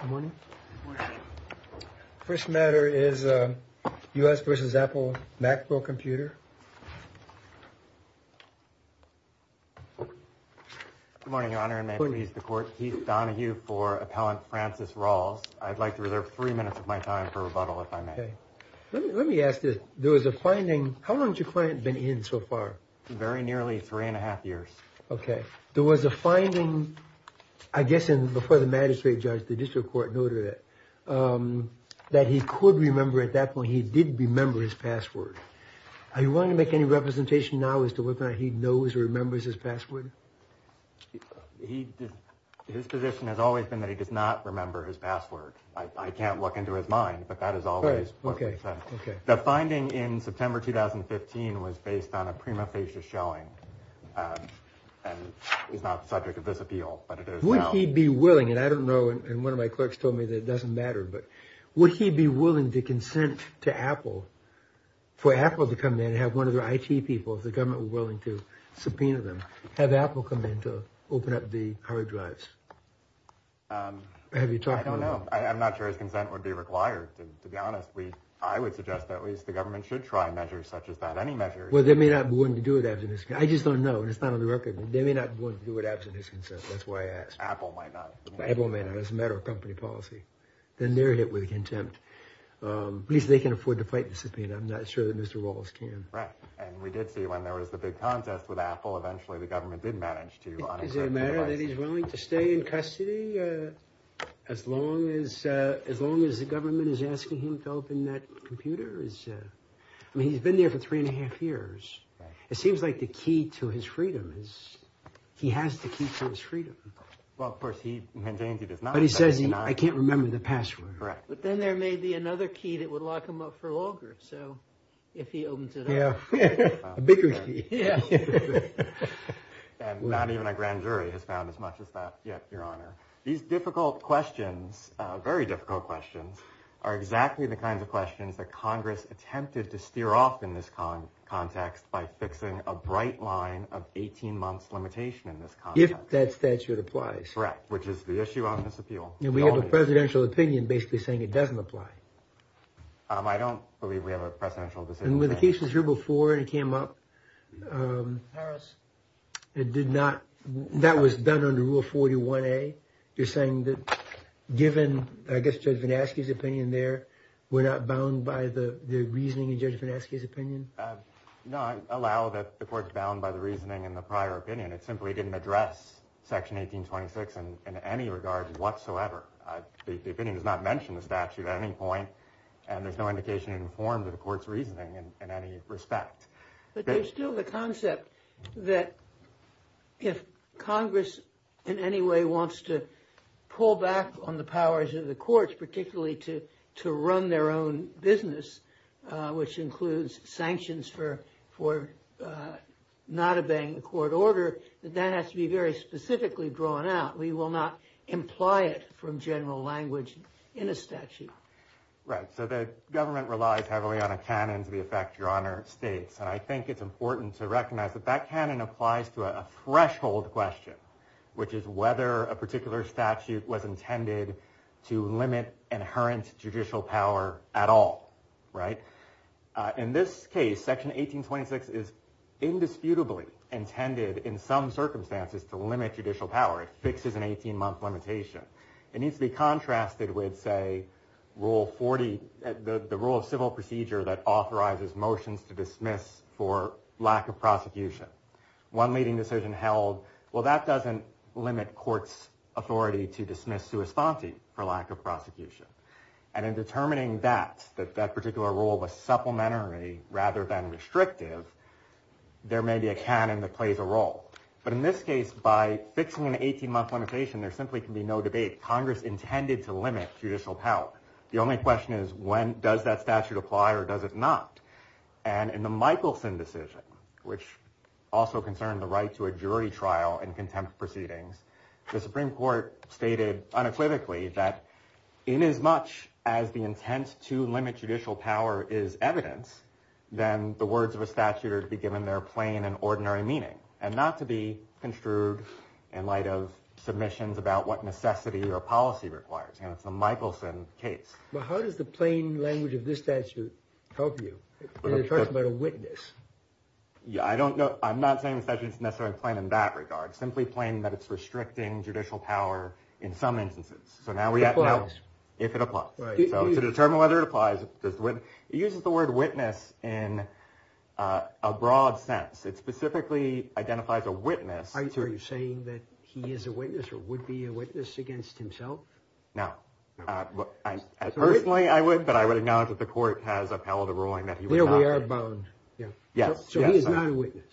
Good morning. First matter is U.S. v. Apple Macpro computer. Good morning, Your Honor, and may it please the Court. Keith Donahue for Appellant Francis Rawls. I'd like to reserve three minutes of my time for rebuttal, if I may. Okay. Let me ask you, there was a finding, how long has your client been in so far? Very nearly three and a half years. Okay. There was a finding, I guess, before the magistrate judge, the district court noted it, that he could remember at that point, he did remember his password. Are you willing to make any representation now as to whether or not he knows or remembers his password? He did. His position has always been that he does not remember his password. I can't look into his mind, but that is always. Okay. Okay. The finding in September 2015 was based on a prima facie showing, and is not the subject of this appeal, but it is now. Would he be willing, and I don't know, and one of my clerks told me that it doesn't matter, but would he be willing to consent to Apple, for Apple to come in and have one of their IT people, if the government were willing to, subpoena them, have Apple come in to open up the hard drives? Have you talked to them? I don't know. I'm not sure his consent would be required, to be honest. I would suggest that at any measure. Well, that may not be one to do with absenteeism. I just don't know, and it's not on the record. They may not want to do it absent his consent. That's why I asked. Apple might not. Apple may not. That's a matter of company policy. Then they're hit with contempt. At least they can afford to fight the subpoena. I'm not sure that Mr. Rawls can. Right. And we did see when there was the big contest with Apple, eventually the government did manage to unencrypt the device. Is it a matter that he's willing to stay in custody, as long as the government is asking him to open that computer? I mean, he's been there for three and a half years. It seems like the key to his freedom is, he has the key to his freedom. Well, of course, he maintains he does not. But he says, I can't remember the password. Correct. But then there may be another key that would lock him up for longer. So, if he opens it up. Yeah. A bigger key. And not even a grand jury has found as much as that yet, Your Honor. These difficult questions, very difficult questions, are exactly the kinds of questions that Congress attempted to steer off in this context by fixing a bright line of 18 months limitation in this context. If that statute applies. Correct. Which is the issue on this appeal. And we have a presidential opinion basically saying it doesn't apply. I don't believe we have a presidential decision. And were the cases here before it came up? Paris. It did not. That was done under Rule 41A. You're saying that given, I guess, Judge Vineski's opinion there, we're not bound by the reasoning in Judge Vineski's opinion? No, I allow that the court's bound by the reasoning in the prior opinion. It simply didn't address Section 1826 in any regard whatsoever. The opinion does not mention the statute at any point. And there's no indication informed of the court's reasoning in any respect. But there's still the concept that if Congress in any way wants to pull back on the powers of the courts, particularly to run their own business, which includes sanctions for not obeying the court order, that that has to be very specifically drawn out. We will not imply it from general language in a statute. Right. So the government relies heavily on a canon to the effect, Your Honor, states. And I think it's important to recognize that that canon applies to a threshold question, which is whether a particular statute was intended to limit inherent judicial power at all. Right. In this case, Section 1826 is indisputably intended in some circumstances to limit judicial power. It fixes an 18-month limitation. It needs to be contrasted with, say, the rule of civil procedure that authorizes motions to dismiss for lack of prosecution. One leading decision held, well, that doesn't limit court's authority to dismiss sua sponte for lack of prosecution. And in determining that, that that particular rule was supplementary rather than restrictive, there may be a canon that plays a role. But in this case, by fixing an 18-month limitation, there simply can be no debate. Congress intended to limit judicial power. The only question is, does that statute apply or does it not? And in the Michelson decision, which also concerned the right to a jury trial and contempt proceedings, the Supreme Court stated unequivocally that inasmuch as the intent to limit judicial power is evidence, then the words of a statute are to be given their plain and ordinary meaning and not to be construed in light of submissions about what necessity or policy requires. And it's the Michelson case. But how does the plain language of this statute help you? It talks about a witness. Yeah, I don't know. I'm not saying the statute is necessarily plain in that regard. Simply plain that it's restricting judicial power in some instances. So now we have to know if it applies. So to determine whether it applies, it uses the word witness in a broad sense. It specifically identifies a witness. Are you saying that he is a witness or would be a witness against himself? No. Personally, I would, but I would acknowledge that the court has upheld the ruling that he was not. We are bound. Yeah. Yes. So he is not a witness.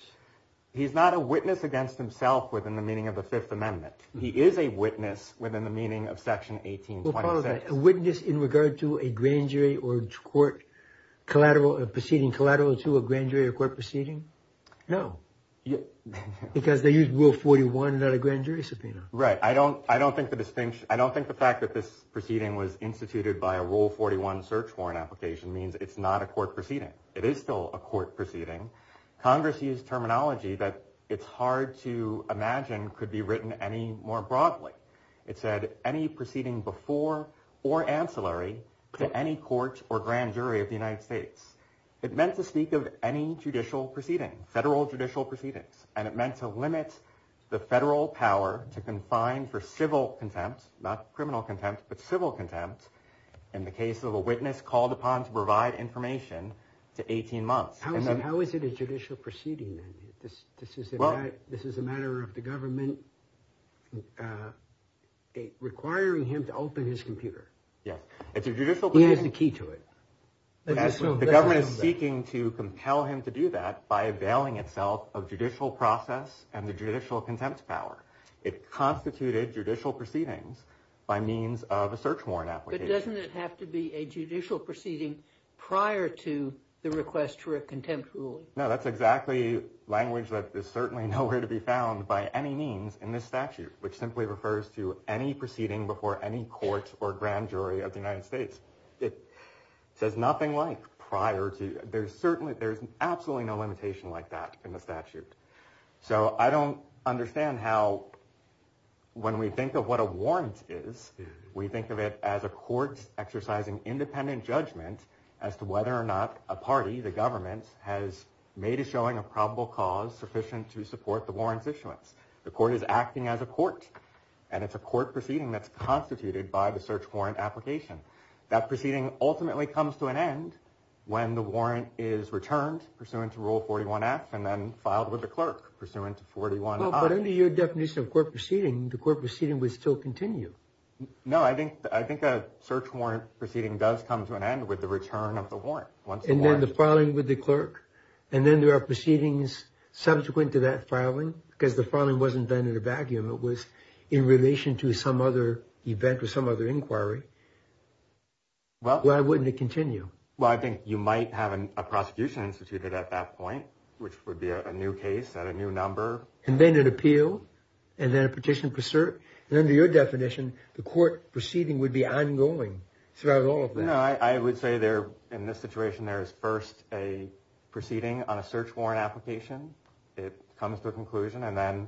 He's not a witness against himself within the meaning of the Fifth Amendment. He is a witness within the meaning of Section 1826. A witness in regard to a grand jury or court collateral or proceeding collateral to a grand jury or court proceeding? No. Because they use Rule 41, not a grand jury subpoena. Right. I don't think the fact that this proceeding was instituted by a Rule 41 search warrant application means it's not a court proceeding. It is still a court proceeding. Congress used terminology that it's hard to imagine could be written any more broadly. It said any proceeding before or ancillary to any court or grand jury of the United States. It meant to speak of any judicial proceeding, federal judicial proceedings, and it meant to limit the federal power to confine for civil contempt, not criminal contempt, but civil contempt in the case of a witness called upon to provide information to 18 months. How is it a judicial proceeding then? This is a matter of the government requiring him to open his computer. Yes, it's a judicial proceeding. He has the key to it. The government is seeking to compel him to do that by availing itself of judicial process and the judicial contempt power. It constituted judicial proceedings by means of a search warrant application. But doesn't it have to be a judicial proceeding prior to the request for a contempt ruling? No, that's exactly language that is certainly nowhere to be found by any means in this statute, which simply refers to any proceeding before any court or grand jury of the United States. It says nothing like prior to. There's absolutely no limitation like that in the statute. So I don't understand how when we think of what a warrant is, we think of it as a court exercising independent judgment as to whether or not a party, the government, has made a showing of probable cause sufficient to support the warrant's issuance. The court is acting as a court, and it's a court proceeding that's application. That proceeding ultimately comes to an end when the warrant is returned, pursuant to Rule 41-F, and then filed with the clerk, pursuant to 41-I. But under your definition of court proceeding, the court proceeding would still continue. No, I think a search warrant proceeding does come to an end with the return of the warrant. And then the filing with the clerk, and then there are proceedings subsequent to that filing, because the filing wasn't done in a vacuum. It was in relation to some other event or some inquiry. Why wouldn't it continue? Well, I think you might have a prosecution instituted at that point, which would be a new case at a new number. And then an appeal, and then a petition for cert. And under your definition, the court proceeding would be ongoing throughout all of that. No, I would say in this situation, there is first a proceeding on a search warrant application. It comes to a conclusion. And then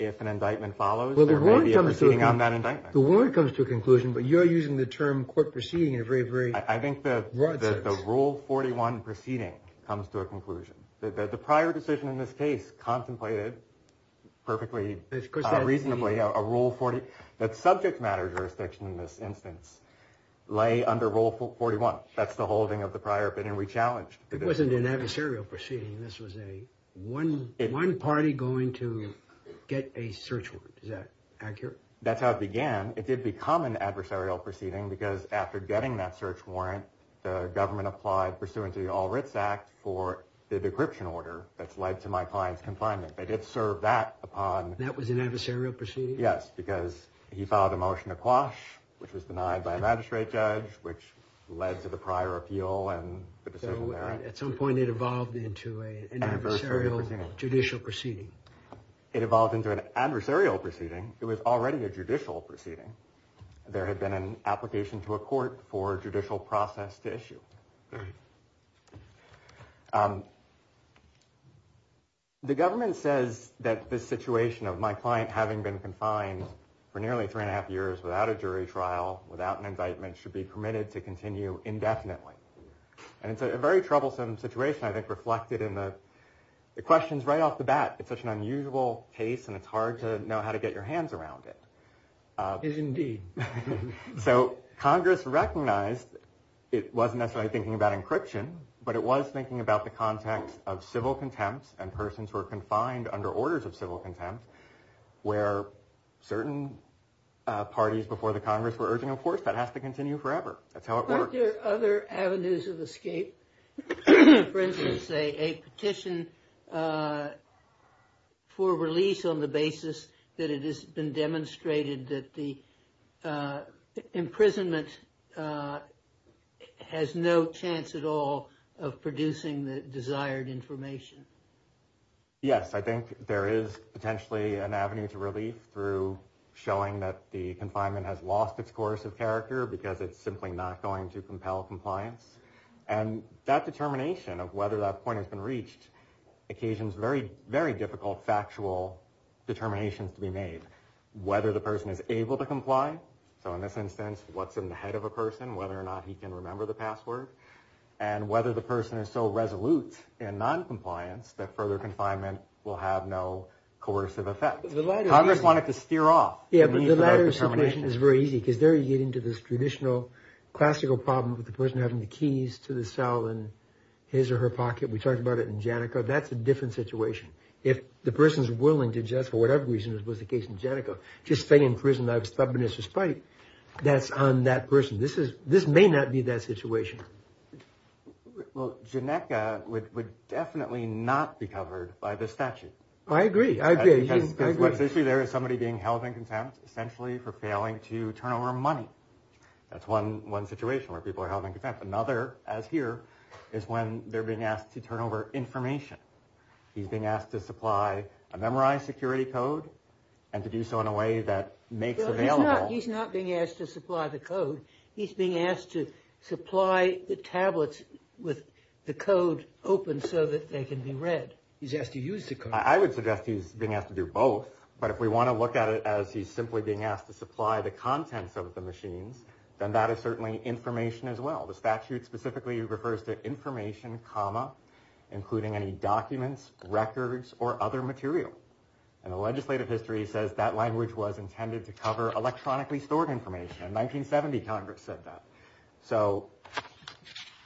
if an indictment follows, there may be a proceeding on that indictment. The warrant comes to a conclusion, but you're using the term court proceeding in a very broad sense. I think that the Rule 41 proceeding comes to a conclusion. The prior decision in this case contemplated perfectly reasonably a Rule 40. That subject matter jurisdiction in this instance lay under Rule 41. That's the holding of the prior opinion we challenged. It wasn't an adversarial proceeding. This was a one party going to get a search warrant. Is that accurate? That's how it began. It did become an adversarial proceeding because after getting that search warrant, the government applied pursuant to the All Writs Act for the decryption order that's led to my client's confinement. They did serve that upon... That was an adversarial proceeding? Yes, because he filed a motion to quash, which was denied by a magistrate judge, which led to the prior appeal and the decision there. At some point, it evolved into an adversarial judicial proceeding. It evolved into an adversarial proceeding. It was already a judicial proceeding. There had been an application to a court for a judicial process to issue. The government says that this situation of my client having been confined for nearly three and a half years without a jury trial, without an indictment, should be permitted to continue indefinitely. And it's a very troublesome situation, I think, reflected in the questions right off the bat. It's such an unusual case, and it's hard to know how to get your hands around it. It is indeed. So Congress recognized it wasn't necessarily thinking about encryption, but it was thinking about the context of civil contempt, and persons who are confined under orders of civil contempt, where certain parties before the Congress were urging, of course, that has to continue forever. That's how it works. Aren't there other avenues of escape? For instance, a petition for release on the basis that it has been demonstrated that the imprisonment has no chance at all of producing the desired information. Yes, I think there is potentially an avenue to relief through showing that the confinement has lost its course of character because it's simply not going to compel compliance. And that determination of whether that point has been reached occasions very, very difficult factual determinations to be made. Whether the person is able to comply. So in this instance, what's in the head of a person, whether or not he can remember the password, and whether the person is so resolute in non-compliance that further confinement will have no coercive effect. Congress wanted to steer off. Yeah, but the latter situation is very easy, because there you get into this traditional, classical problem with the person having the keys to the cell in his or her pocket. We talked about it in Janica. That's a different situation. If the person is willing to just, for whatever reason it was the case in Janica, just stay in prison out of stubbornness or spite, that's on that person. This is, this may not be that situation. Well, Janica would definitely not be covered by the statute. I agree, I agree. Because what's the issue there is somebody being held in contempt, essentially for failing to turn over money. That's one situation where people are held in contempt. Another, as here, is when they're being asked to turn over information. He's being asked to supply a memorized security code, and to do so in a way that makes available. He's not being asked to supply the code. He's being asked to supply the tablets with the code open so that they can be read. He's asked to use the code. I would suggest he's being asked to do both. But if we want to look at it as he's simply being asked to supply the contents of the machines, then that is certainly information as well. The statute specifically refers to information, comma, including any documents, records, or other material. And the legislative history says that language was intended to cover electronically stored information. In 1970, Congress said that. So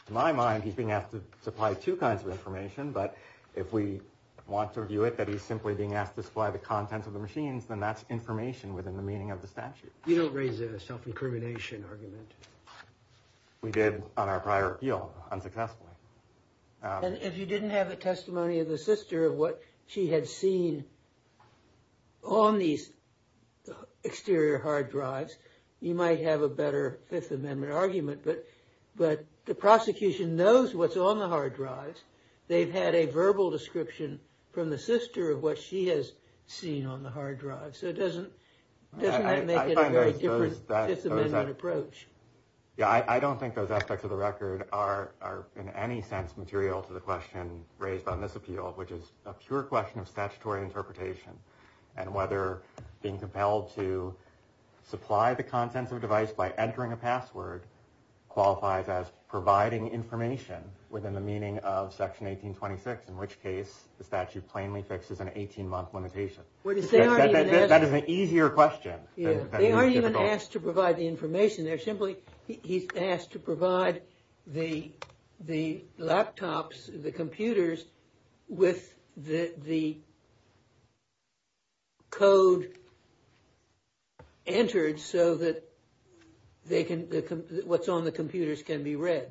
in my mind, he's being asked to supply two kinds of information. But if we want to view it that he's simply being asked to supply the contents of the machines, then that's information within the meaning of the statute. You don't raise a self-incrimination argument. We did on our prior appeal, unsuccessfully. And if you didn't have a testimony of the sister of what she had seen on these exterior hard drives, you might have a better Fifth Amendment argument. But the prosecution knows what's on the hard drives. They've had a verbal description from the sister of what she has seen on the hard drive. So it doesn't make it a very different Fifth Amendment approach. Yeah, I don't think those aspects of the record are, in any sense, material to the question raised on this appeal, which is a pure question of statutory interpretation. And whether being compelled to supply the contents of a device by entering a password qualifies as providing information within the meaning of Section 1826, in which case the statute plainly fixes an 18-month limitation. That is an easier question. They aren't even asked to provide the information. They're simply, he's asked to provide the laptops, the computers, with the code entered so that what's on the computers can be read.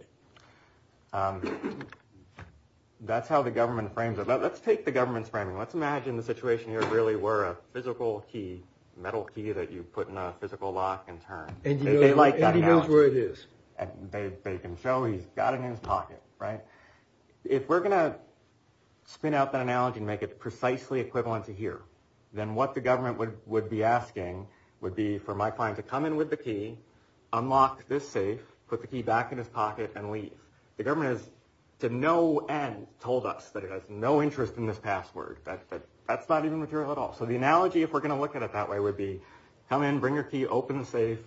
That's how the government frames it. Let's take the government's framing. Let's imagine the situation here really were a physical key, metal key that you put in a physical lock and turn. And he knows where it is. They can show he's got it in his pocket, right? If we're going to spin out that analogy and make it precisely equivalent to here, then what the government would be asking would be for my client to come in with the key, unlock this safe, put the key back in his pocket, and leave. The government has, to no end, told us that it has no interest in this password, that's not even material at all. So the analogy, if we're going to look at it that way, would be come in, bring your key, open the safe,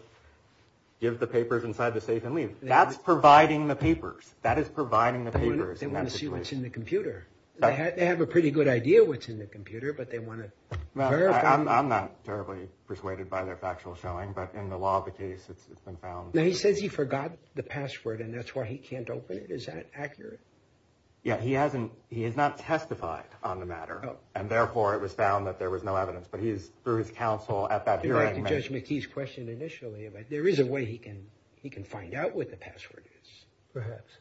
give the papers inside the safe, and leave. That's providing the papers. That is providing the papers. They want to see what's in the computer. They have a pretty good idea what's in the computer, but they want to verify. I'm not terribly persuaded by their factual showing, but in the law of the case, it's been found. Now, he says he forgot the password, and that's why he can't open it. Is that accurate? Yeah, he has not testified on the matter, and therefore, it was found that there was no evidence. But he's, through his counsel, at that hearing, I'd like to judge McKee's question initially, but there is a way he can find out what the password is, perhaps.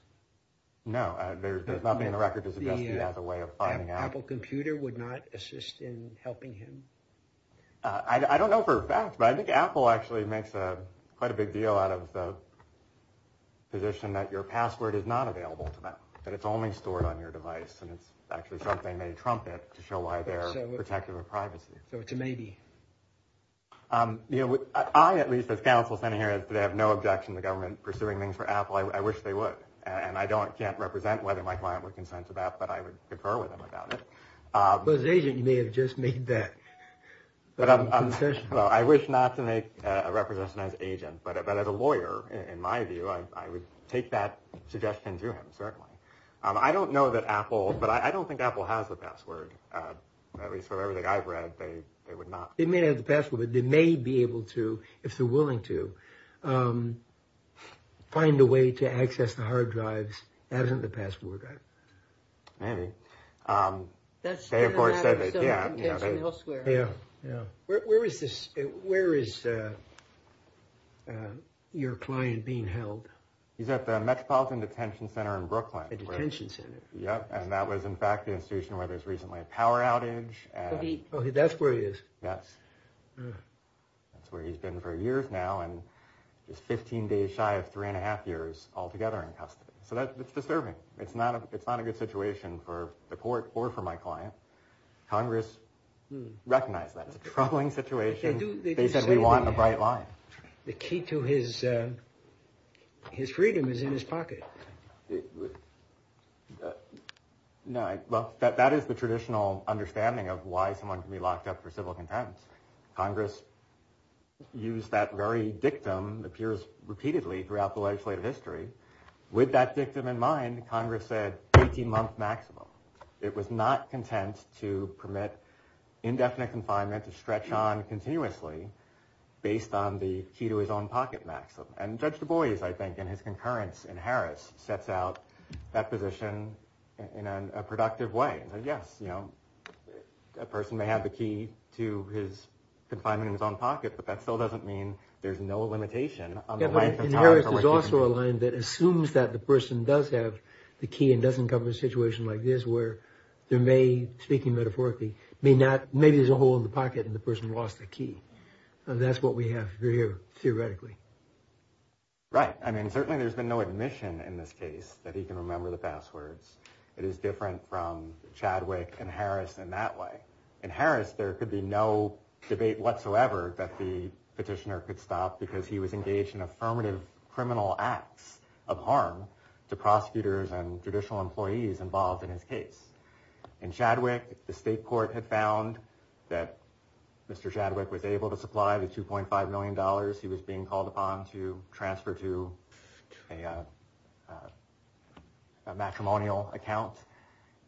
No, there's nothing in the record to suggest he has a way of finding out. Apple computer would not assist in helping him? I don't know for a fact, but I think Apple actually makes quite a big deal out of the position that your password is not available to them. That it's only stored on your device, and it's actually something they trumpet to show why they're protective of privacy. So it's a maybe. I, at least, as counsel standing here today, have no objection to government pursuing things for Apple. I wish they would, and I can't represent whether my client would consent to that, but I would concur with him about it. But as an agent, you may have just made that concession. I wish not to make a representation as an agent, but as a lawyer, in my view, I would take that suggestion to him, certainly. I don't know that Apple, but I don't think Apple has the password. At least, from everything I've read, they would not. They may have the password, but they may be able to, if they're willing to, find a way to access the hard drives, that isn't the password. Maybe. That's not a matter of self-detention elsewhere. Yeah, yeah. Where is this, where is your client being held? He's at the Metropolitan Detention Center in Brooklyn. Detention Center. Yep, and that was, in fact, the institution where there was recently a power outage. That's where he is? Yes. That's where he's been for years now, and he's 15 days shy of three and a half years altogether in custody. So that's disturbing. It's not a good situation for the court or for my client. Congress recognized that. It's a troubling situation. They said we want a bright line. The key to his freedom is in his pocket. No, well, that is the traditional understanding of why someone can be locked up for civil contempt. Congress used that very dictum, appears repeatedly throughout the legislative history. With that dictum in mind, Congress said 18 month maximum. It was not content to permit indefinite confinement to stretch on continuously based on the key to his own pocket maximum. And Judge Du Bois, I think, in his concurrence in Harris, sets out that position in a productive way. Yes, you know, a person may have the key to his confinement in his own pocket, but that still doesn't mean there's no limitation on the length of time. In Harris, there's also a line that assumes that the person does have the key and doesn't cover a situation like this where there may, speaking metaphorically, may not, maybe there's a hole in the pocket and the person lost the key. That's what we have here, theoretically. Right. I mean, certainly there's been no admission in this case that he can remember the passwords. It is different from Chadwick and Harris in that way. In Harris, there could be no debate whatsoever that the petitioner could stop because he was engaged in affirmative criminal acts of harm to prosecutors and judicial employees involved in his case. In Chadwick, the state court had found that Mr. Chadwick was able to supply the $2.5 million he was being called upon to transfer to a matrimonial account.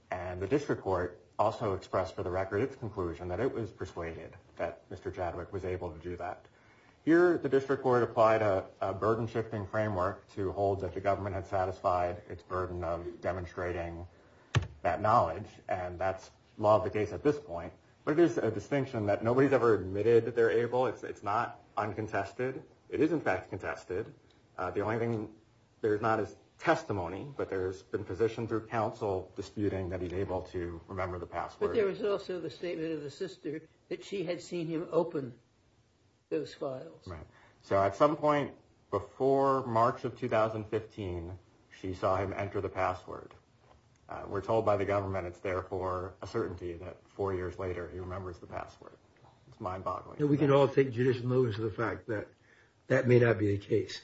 And the district court also expressed, for the record, its conclusion that it was persuaded that Mr. Chadwick was able to do that. Here, the district court applied a burden-shifting framework to hold that the government had satisfied its burden of demonstrating that knowledge. And that's law of the case at this point. But it is a distinction that nobody's ever admitted that they're able. It's not uncontested. It is, in fact, contested. The only thing there is not is testimony. But there's been position through counsel disputing that he's able to remember the password. But there was also the statement of the sister that she had seen him open those files. Right. So at some point before March of 2015, she saw him enter the password. We're told by the government it's there for a certainty that four years later, he remembers the password. It's mind-boggling. We can all take judicial notice of the fact that that may not be the case.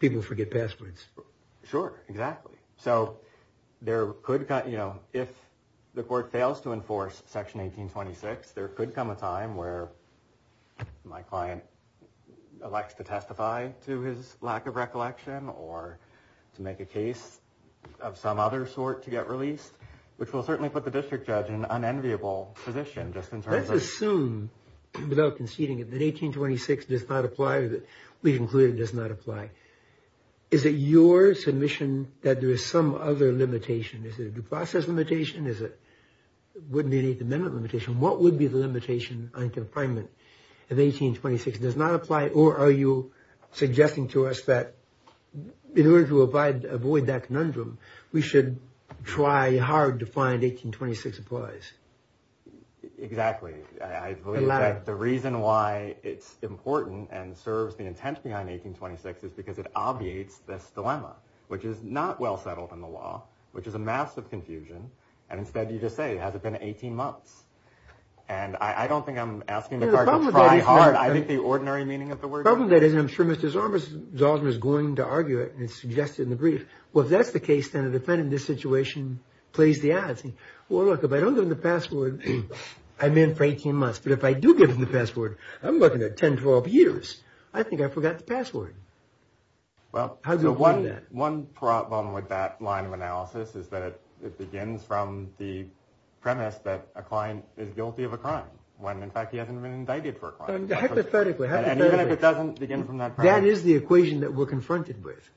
People forget passwords. Sure, exactly. So if the court fails to enforce Section 1826, there could come a time where my client elects to testify to his lack of recollection or to make a case of some other sort to get released, which will certainly put the district judge in an unenviable position just in terms of. Assume without conceding that 1826 does not apply, that we conclude it does not apply. Is it your submission that there is some other limitation? Is it a due process limitation? Is it would be the amendment limitation? What would be the limitation on confinement if 1826 does not apply? Or are you suggesting to us that in order to avoid that conundrum, we should try hard to find 1826 applies? Exactly. The reason why it's important and serves the intent behind 1826 is because it obviates this dilemma, which is not well settled in the law, which is a massive confusion. And instead, you just say, has it been 18 months? And I don't think I'm asking the court to try hard. I think the ordinary meaning of the word. The problem that is, I'm sure Mr. Zalzman is going to argue it and it's suggested in the brief. Well, if that's the case, then a defendant in this situation plays the odds. Well, look, if I don't give him the password, I'm in for 18 months. But if I do give him the password, I'm looking at 10, 12 years. I think I forgot the password. Well, one problem with that line of analysis is that it begins from the premise that a client is guilty of a crime when, in fact, he hasn't been indicted for a crime. Hypothetically. And even if it doesn't begin from that premise. That is the equation that we're confronted with.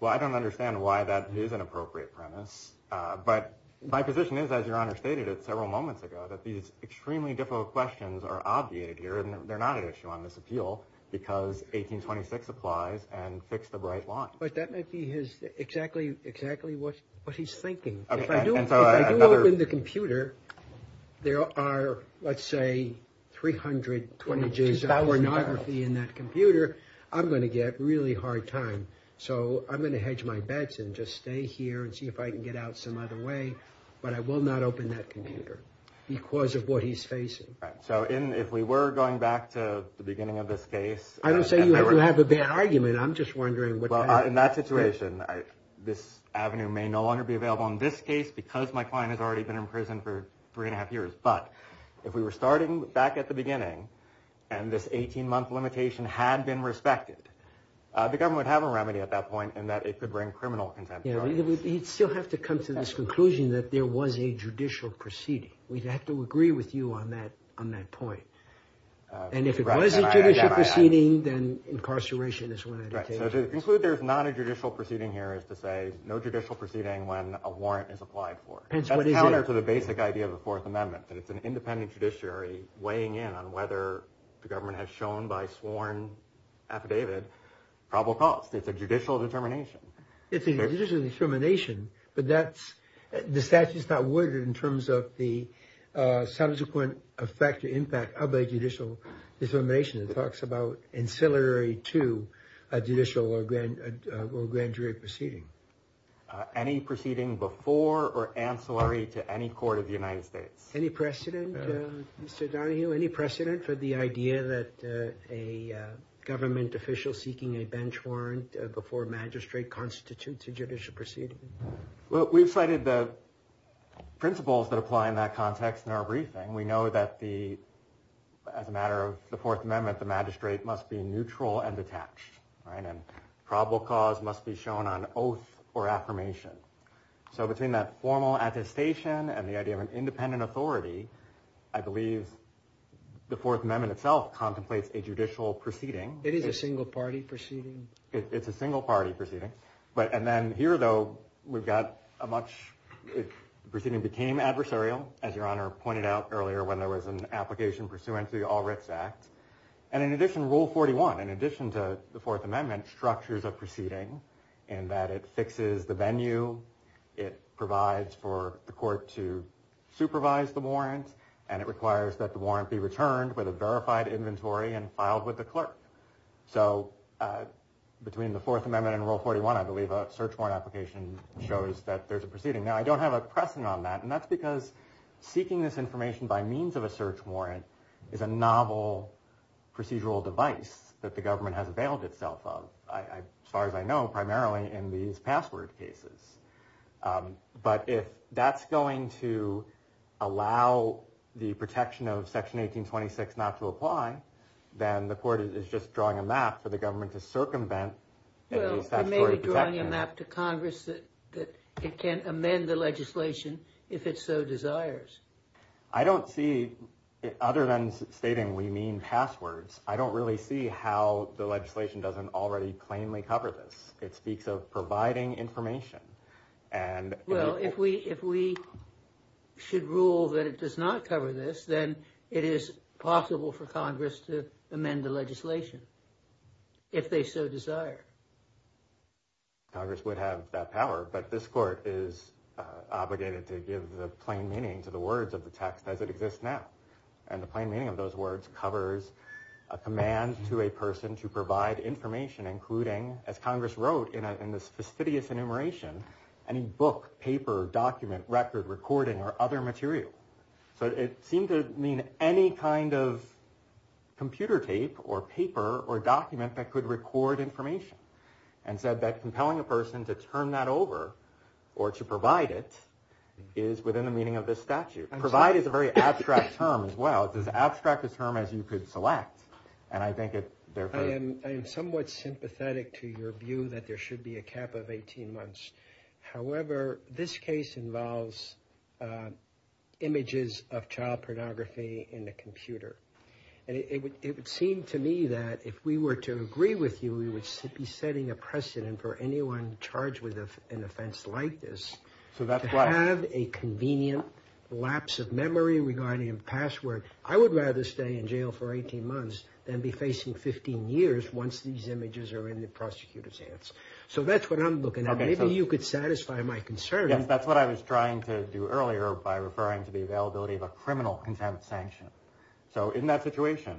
Well, I don't understand why that is an appropriate premise. But my position is, as your honor stated it several moments ago, that these extremely difficult questions are obviated here. And they're not an issue on this appeal because 1826 applies and fix the right line. But that might be exactly what he's thinking. If I do open the computer, there are, let's say, 320 days of pornography in that computer. I'm going to get really hard time. So I'm going to hedge my bets and just stay here and see if I can get out some other way. But I will not open that computer because of what he's facing. So if we were going back to the beginning of this case. I don't say you have to have a bad argument. I'm just wondering. In that situation, this avenue may no longer be available in this case because my client has already been in prison for three and a half years. But if we were starting back at the beginning and this 18 month limitation had been respected, the government would have a remedy at that point. And that it could bring criminal contempt. You'd still have to come to this conclusion that there was a judicial proceeding. We'd have to agree with you on that on that point. And if it was a judicial proceeding, then incarceration is what I would take. So to conclude, there's not a judicial proceeding here is to say no judicial proceeding when a warrant is applied for. Hence, what is counter to the basic idea of the Fourth Amendment? That it's an independent judiciary weighing in on whether the government has shown by probable cause. It's a judicial determination. It's a judicial determination. But that's the statute's not worded in terms of the subsequent effect or impact of a judicial determination. It talks about ancillary to a judicial or grand jury proceeding. Any proceeding before or ancillary to any court of the United States? Any precedent, Mr. Donahue? Any precedent for the idea that a government official seeking a bench warrant before magistrate constitutes a judicial proceeding? Well, we've cited the principles that apply in that context in our briefing. We know that as a matter of the Fourth Amendment, the magistrate must be neutral and detached, right? And probable cause must be shown on oath or affirmation. So between that formal attestation and the idea of an independent authority, I believe the Fourth Amendment itself contemplates a judicial proceeding. It is a single party proceeding. It's a single party proceeding. But and then here, though, we've got a much proceeding became adversarial, as your honor pointed out earlier when there was an application pursuant to the All Writs Act. And in addition, Rule 41, in addition to the Fourth Amendment, structures a proceeding in that it fixes the venue. It provides for the court to supervise the warrant. And it requires that the warrant be returned with a verified inventory and filed with the clerk. So between the Fourth Amendment and Rule 41, I believe a search warrant application shows that there's a proceeding. Now, I don't have a precedent on that. And that's because seeking this information by means of a search warrant is a novel procedural device that the government has availed itself of, as far as I know, primarily in these password cases. Um, but if that's going to allow the protection of Section 1826 not to apply, then the court is just drawing a map for the government to circumvent. Well, maybe drawing a map to Congress that it can amend the legislation if it so desires. I don't see it other than stating we mean passwords. I don't really see how the legislation doesn't already plainly cover this. It speaks of providing information. And well, if we if we should rule that it does not cover this, then it is possible for Congress to amend the legislation if they so desire. Congress would have that power. But this court is obligated to give the plain meaning to the words of the text as it exists now. And the plain meaning of those words covers a command to a person to provide information, including, as Congress wrote in this fastidious enumeration, any book, paper, document, record, recording, or other material. So it seemed to mean any kind of computer tape or paper or document that could record information and said that compelling a person to turn that over or to provide it is within the meaning of this statute. Provide is a very abstract term as well. It's as abstract a term as you could select. And I think I am somewhat sympathetic to your view that there should be a cap of 18 months. However, this case involves images of child pornography in the computer. And it would seem to me that if we were to agree with you, we would be setting a precedent for anyone charged with an offense like this. So that's why I have a convenient lapse of memory regarding a password. I would rather stay in jail for 18 months than be facing 15 years once these images are in the prosecutor's hands. So that's what I'm looking at. Maybe you could satisfy my concern. Yes, that's what I was trying to do earlier by referring to the availability of a criminal contempt sanction. So in that situation,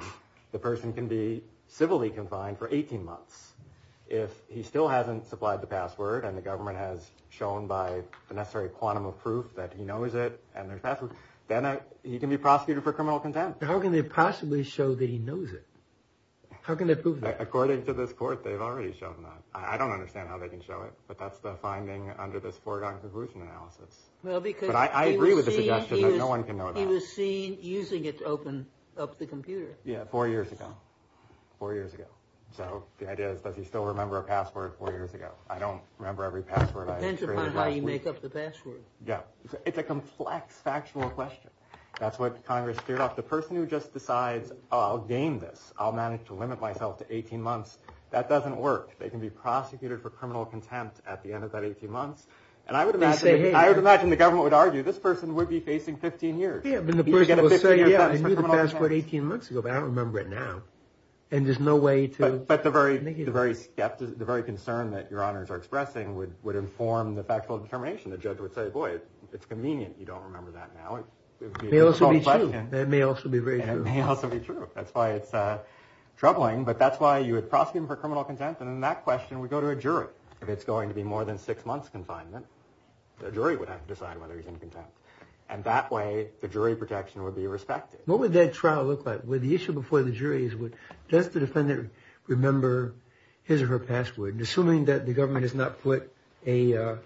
the person can be civilly confined for 18 months. If he still hasn't supplied the password and the government has shown by the necessary quantum of proof that he knows it and there's password, then he can be prosecuted for criminal contempt. How can they possibly show that he knows it? How can they prove that? According to this court, they've already shown that. I don't understand how they can show it. But that's the finding under this foregone conclusion analysis. Well, because I agree with the suggestion that no one can know that. He was seen using it to open up the computer. Yeah, four years ago. Four years ago. So the idea is, does he still remember a password four years ago? I don't remember every password. Depends upon how you make up the password. Yeah. It's a complex, factual question. That's what Congress steered off. The person who just decides, I'll gain this. I'll manage to limit myself to 18 months. That doesn't work. They can be prosecuted for criminal contempt at the end of that 18 months. And I would imagine the government would argue this person would be facing 15 years. Yeah, but the person would say, yeah, I knew the password 18 months ago, but I don't remember it now. And there's no way to. But the very concern that your honors are expressing would inform the factual determination. The judge would say, boy, it's convenient you don't remember that now. It may also be true. That's why it's troubling. But that's why you would prosecute him for criminal contempt. And then that question would go to a jury. If it's going to be more than six months confinement, the jury would have to decide whether he's in contempt. And that way, the jury protection would be respected. What would that trial look like? The issue before the jury is, does the defendant remember his or her password? Assuming that the government has not put a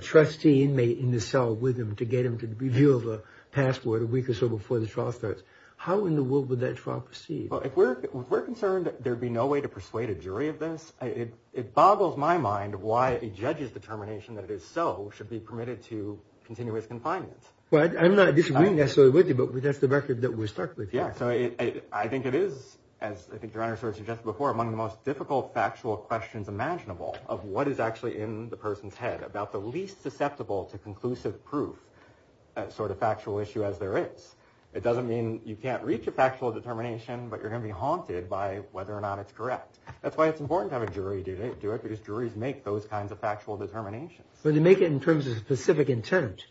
trustee inmate in the cell with him to get him to reveal the password a week or so before the trial starts, how in the world would that trial proceed? Well, if we're concerned, there'd be no way to persuade a jury of this. It boggles my mind why a judge's determination that it is so should be permitted to continuous confinement. Well, I'm not disagreeing necessarily with you, but that's the record that we're stuck with. I think it is, as I think your Honor sort of suggested before, among the most difficult factual questions imaginable of what is actually in the person's head, about the least susceptible to conclusive proof sort of factual issue as there is. It doesn't mean you can't reach a factual determination, but you're going to be haunted by whether or not it's correct. That's why it's important to have a jury do it, because juries make those kinds of factual determinations. But they make it in terms of specific intent.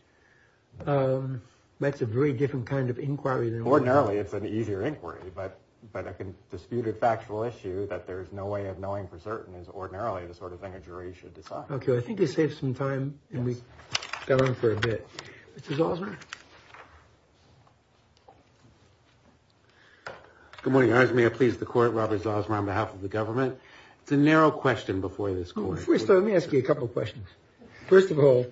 That's a very different kind of inquiry than what we have. It's an easier inquiry, but a disputed factual issue that there's no way of knowing for certain is ordinarily the sort of thing a jury should decide. OK, I think we saved some time, and we got on for a bit. Mr. Zalzman? Good morning, Your Honor. May I please the court, Robert Zalzman, on behalf of the government? It's a narrow question before this court. First, let me ask you a couple of questions. First of all,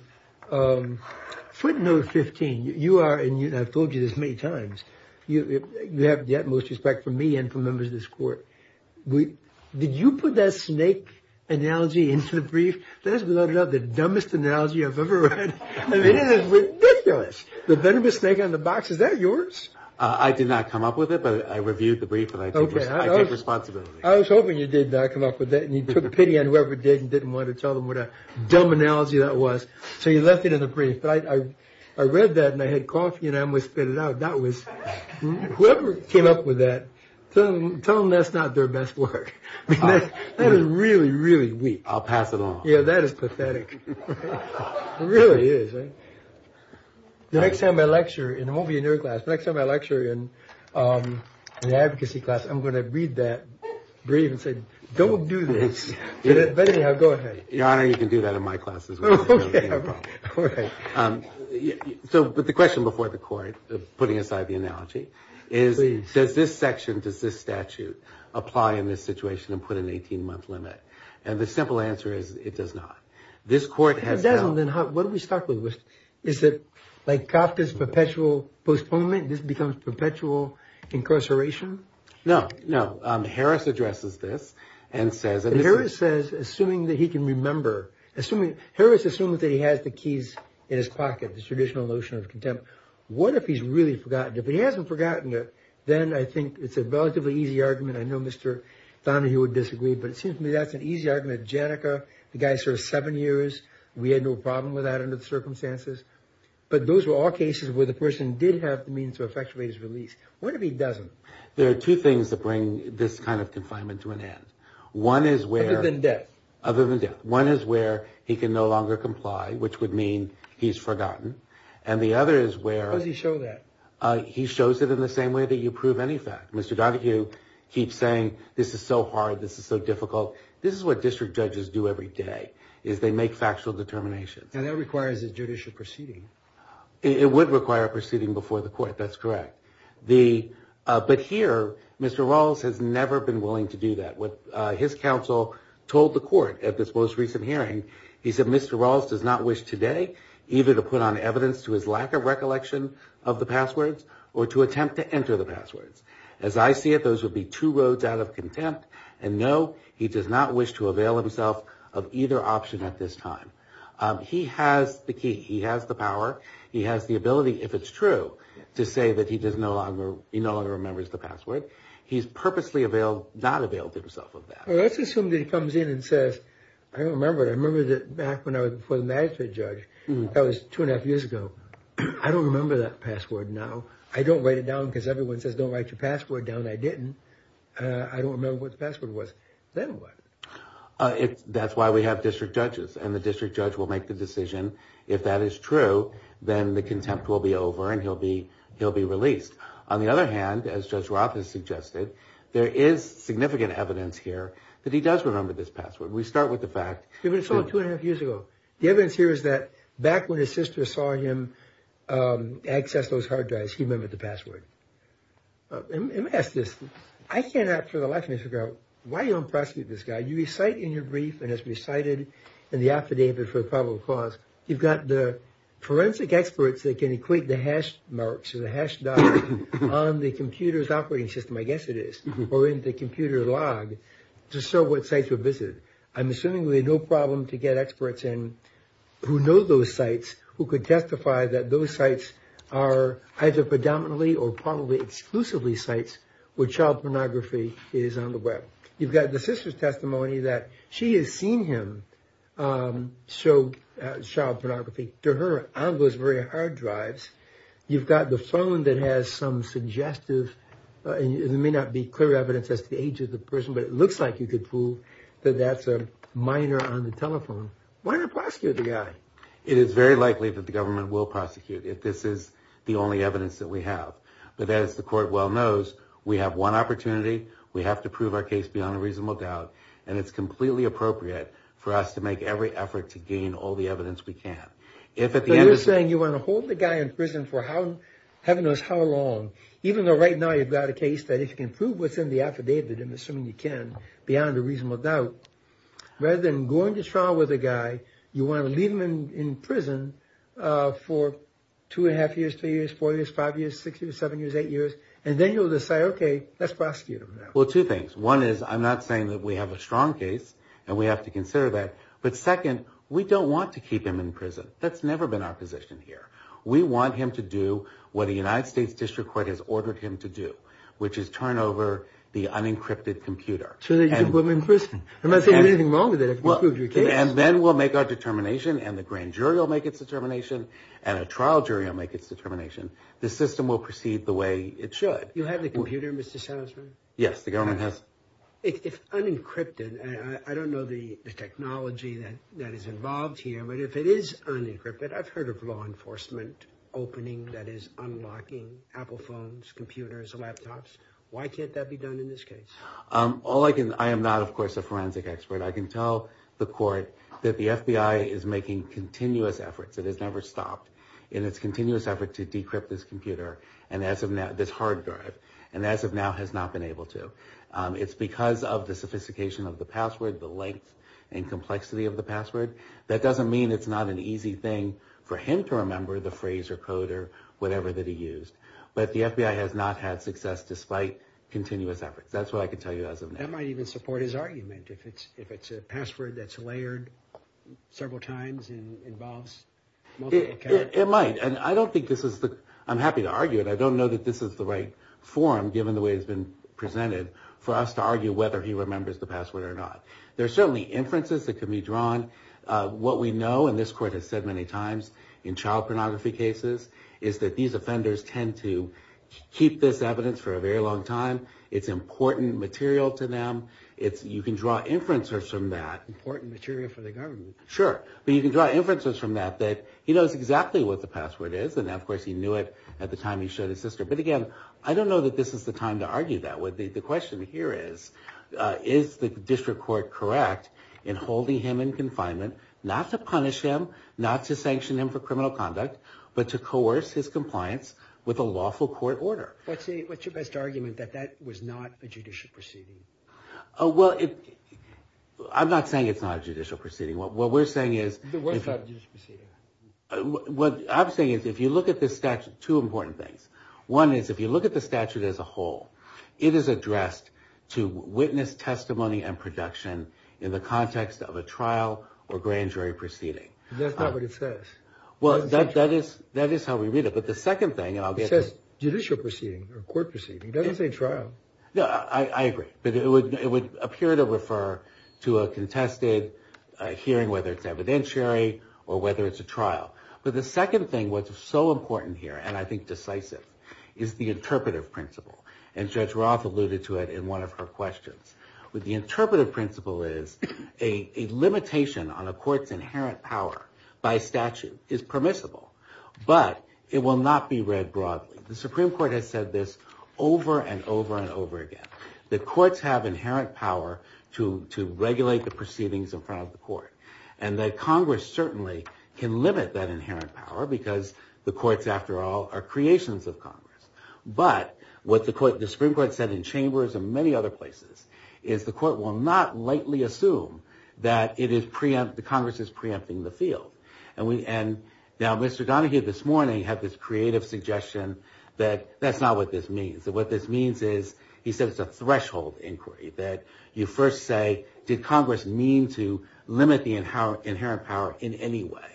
footnote 15, you are, and I've told you this many times, you have the utmost respect for me and for members of this court. Did you put that snake analogy into the brief? That is, without a doubt, the dumbest analogy I've ever read. I mean, it is ridiculous. The venomous snake on the box, is that yours? I did not come up with it, but I reviewed the brief, and I take responsibility. I was hoping you did not come up with it, and you took pity on whoever did and didn't want to tell them what a dumb analogy that was. So you left it in the brief. But I read that, and I had coffee, and I almost spit it out. That was, whoever came up with that, tell them that's not their best work. That is really, really weak. I'll pass it on. Yeah, that is pathetic. It really is. The next time I lecture, and it won't be in your class, but next time I lecture in an advocacy class, I'm going to read that brief and say, don't do this. But anyhow, go ahead. Your Honor, you can do that in my classes. So, but the question before the court, putting aside the analogy, is, does this section, does this statute, apply in this situation and put an 18-month limit? And the simple answer is, it does not. This court has- If it doesn't, then what do we start with? Is it like Kafka's perpetual postponement? This becomes perpetual incarceration? No, no. Harris addresses this and says- Assuming that he can remember, assuming, Harris assumes that he has the keys in his pocket, the traditional notion of contempt. What if he's really forgotten it? If he hasn't forgotten it, then I think it's a relatively easy argument. I know Mr. Donahue would disagree, but it seems to me that's an easy argument. Janneke, the guy served seven years. We had no problem with that under the circumstances. But those were all cases where the person did have the means to effectuate his release. What if he doesn't? There are two things that bring this kind of confinement to an end. One is where- Other than death. Other than death. One is where he can no longer comply, which would mean he's forgotten. And the other is where- How does he show that? He shows it in the same way that you prove any fact. Mr. Donahue keeps saying, this is so hard, this is so difficult. This is what district judges do every day, is they make factual determinations. And that requires a judicial proceeding. It would require a proceeding before the court. That's correct. But here, Mr. Rawls has never been willing to do that. His counsel told the court at this most recent hearing, he said, Mr. Rawls does not wish today either to put on evidence to his lack of recollection of the passwords or to attempt to enter the passwords. As I see it, those would be two roads out of contempt. And no, he does not wish to avail himself of either option at this time. He has the key. He has the power. He has the ability, if it's true, to say that he no longer remembers the password. He's purposely not availed himself of that. Let's assume that he comes in and says, I don't remember it. I remember that back when I was before the Magistrate Judge. That was two and a half years ago. I don't remember that password now. I don't write it down because everyone says, don't write your password down. I didn't. I don't remember what the password was. Then what? That's why we have district judges. And the district judge will make the decision. If that is true, then the contempt will be over and he'll be released. On the other hand, as Judge Roth has suggested, there is significant evidence here that he does remember this password. We start with the fact. If it's all two and a half years ago, the evidence here is that back when his sister saw him access those hard drives, he remembered the password. Let me ask this. I cannot for the life of me figure out why you don't prosecute this guy. You recite in your brief and it's recited in the affidavit for probable cause. You've got the forensic experts that can equate the hash marks, the hash dot on the computer's operating system, I guess it is, or in the computer log to show what sites were visited. I'm assuming we have no problem to get experts in who know those sites, who could testify that those sites are either predominantly or probably exclusively sites where child pornography is on the web. You've got the sister's testimony that she has seen him. So child pornography to her, I was very hard drives. You've got the phone that has some suggestive. There may not be clear evidence as to the age of the person, but it looks like you could prove that that's a minor on the telephone. Why not prosecute the guy? It is very likely that the government will prosecute if this is the only evidence that we have. But as the court well knows, we have one opportunity. We have to prove our case beyond a reasonable doubt. And it's completely appropriate for us to make every effort to gain all the evidence we can. If at the end of saying you want to hold the guy in prison for how, heaven knows how long, even though right now you've got a case that if you can prove what's in the affidavit, I'm assuming you can beyond a reasonable doubt, rather than going to trial with a guy, you want to leave him in prison for two and a half years, three years, four years, five years, six years, seven years, eight years. And then you'll decide, OK, let's prosecute him. Well, two things. One is I'm not saying that we have a strong case, and we have to consider that. But second, we don't want to keep him in prison. That's never been our position here. We want him to do what the United States District Court has ordered him to do, which is turn over the unencrypted computer. So that you can put him in prison. I'm not saying there's anything wrong with that if you prove your case. And then we'll make our determination, and the grand jury will make its determination, and a trial jury will make its determination. The system will proceed the way it should. You'll have the computer, Mr. Salazar? Yes, the government has. If unencrypted, I don't know the technology that is involved here. But if it is unencrypted, I've heard of law enforcement opening, that is, unlocking Apple phones, computers, laptops. Why can't that be done in this case? I am not, of course, a forensic expert. I can tell the court that the FBI is making continuous efforts. It has never stopped in its continuous effort to decrypt this computer, this hard drive. And as of now, has not been able to. It's because of the sophistication of the password, the length and complexity of the password. That doesn't mean it's not an easy thing for him to remember the phrase or code or whatever that he used. But the FBI has not had success despite continuous efforts. That's what I can tell you as of now. That might even support his argument. If it's a password that's layered several times and involves multiple characters. It might. And I don't think this is the... I'm happy to argue it. I don't know that this is the right form, given the way it's been presented, for us to argue whether he remembers the password or not. There are certainly inferences that can be drawn. What we know, and this court has said many times in child pornography cases, is that these offenders tend to keep this evidence for a very long time. It's important material to them. You can draw inferences from that. Important material for the government. Sure. But you can draw inferences from that that he knows exactly what the password is. Now, of course, he knew it at the time he showed his sister. But again, I don't know that this is the time to argue that. The question here is, is the district court correct in holding him in confinement, not to punish him, not to sanction him for criminal conduct, but to coerce his compliance with a lawful court order? What's your best argument that that was not a judicial proceeding? Well, I'm not saying it's not a judicial proceeding. What we're saying is... It was not a judicial proceeding. What I'm saying is, if you look at this statute, two important things. One is, if you look at the statute as a whole, it is addressed to witness testimony and production in the context of a trial or grand jury proceeding. That's not what it says. Well, that is how we read it. But the second thing... It says judicial proceeding or court proceeding. It doesn't say trial. No, I agree. But it would appear to refer to a contested hearing, whether it's evidentiary or whether it's a trial. But the second thing, what's so important here, and I think decisive, is the interpretive principle. And Judge Roth alluded to it in one of her questions. The interpretive principle is a limitation on a court's inherent power by statute is permissible, but it will not be read broadly. The Supreme Court has said this over and over and over again. The courts have inherent power to regulate the proceedings in front of the court. And the Congress certainly can limit that inherent power because the courts, after all, are creations of Congress. But what the Supreme Court said in chambers and many other places is the court will not lightly assume that the Congress is preempting the field. Now, Mr. Donahue this morning had this creative suggestion that that's not what this means. That what this means is, he said it's a threshold inquiry. That you first say, did Congress mean to limit the inherent power in any way?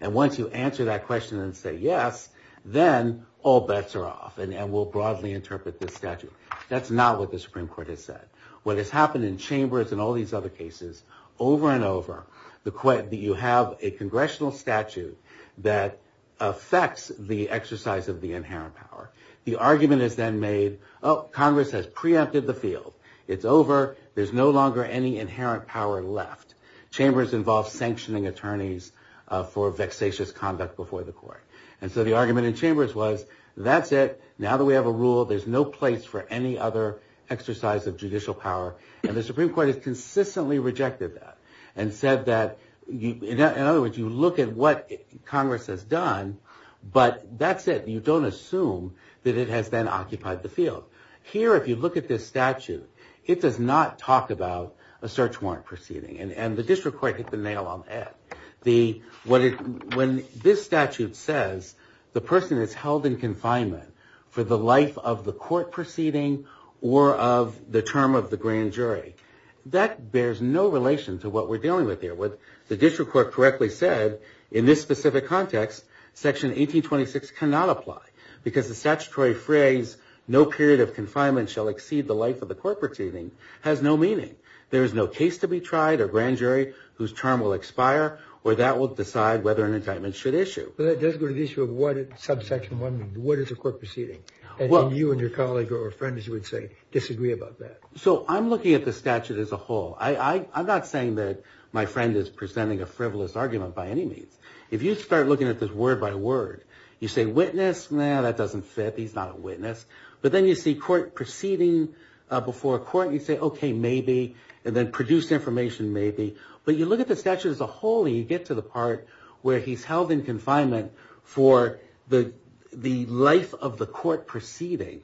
And once you answer that question and say yes, then all bets are off and we'll broadly interpret this statute. That's not what the Supreme Court has said. What has happened in chambers and all these other cases, over and over, you have a congressional statute that affects the exercise of the inherent power. The argument is then made, oh, Congress has preempted the field. It's over. There's no longer any inherent power left. Chambers involves sanctioning attorneys for vexatious conduct before the court. And so the argument in chambers was, that's it. Now that we have a rule, there's no place for any other exercise of judicial power. And the Supreme Court has consistently rejected that. And said that, in other words, you look at what Congress has done, but that's it. You don't assume that it has then occupied the field. Here, if you look at this statute, it does not talk about a search warrant proceeding. And the district court hit the nail on the head. When this statute says the person is held in confinement for the life of the court proceeding or of the term of the grand jury, that bears no relation to what we're dealing with here. What the district court correctly said, in this specific context, section 1826 cannot apply. Because the statutory phrase, no period of confinement shall exceed the life of the court proceeding, has no meaning. There is no case to be tried or grand jury whose term will expire, or that will decide whether an indictment should issue. But that does go to the issue of what subsection 1 means. What is a court proceeding? And you and your colleague or friend, as you would say, disagree about that. So I'm looking at the statute as a whole. I'm not saying that my friend is presenting a frivolous argument by any means. If you start looking at this word by word, you say witness, no, that doesn't fit. He's not a witness. But then you see court proceeding before a court. You say, OK, maybe. And then produced information, maybe. But you look at the statute as a whole, and you get to the part where he's held in confinement for the life of the court proceeding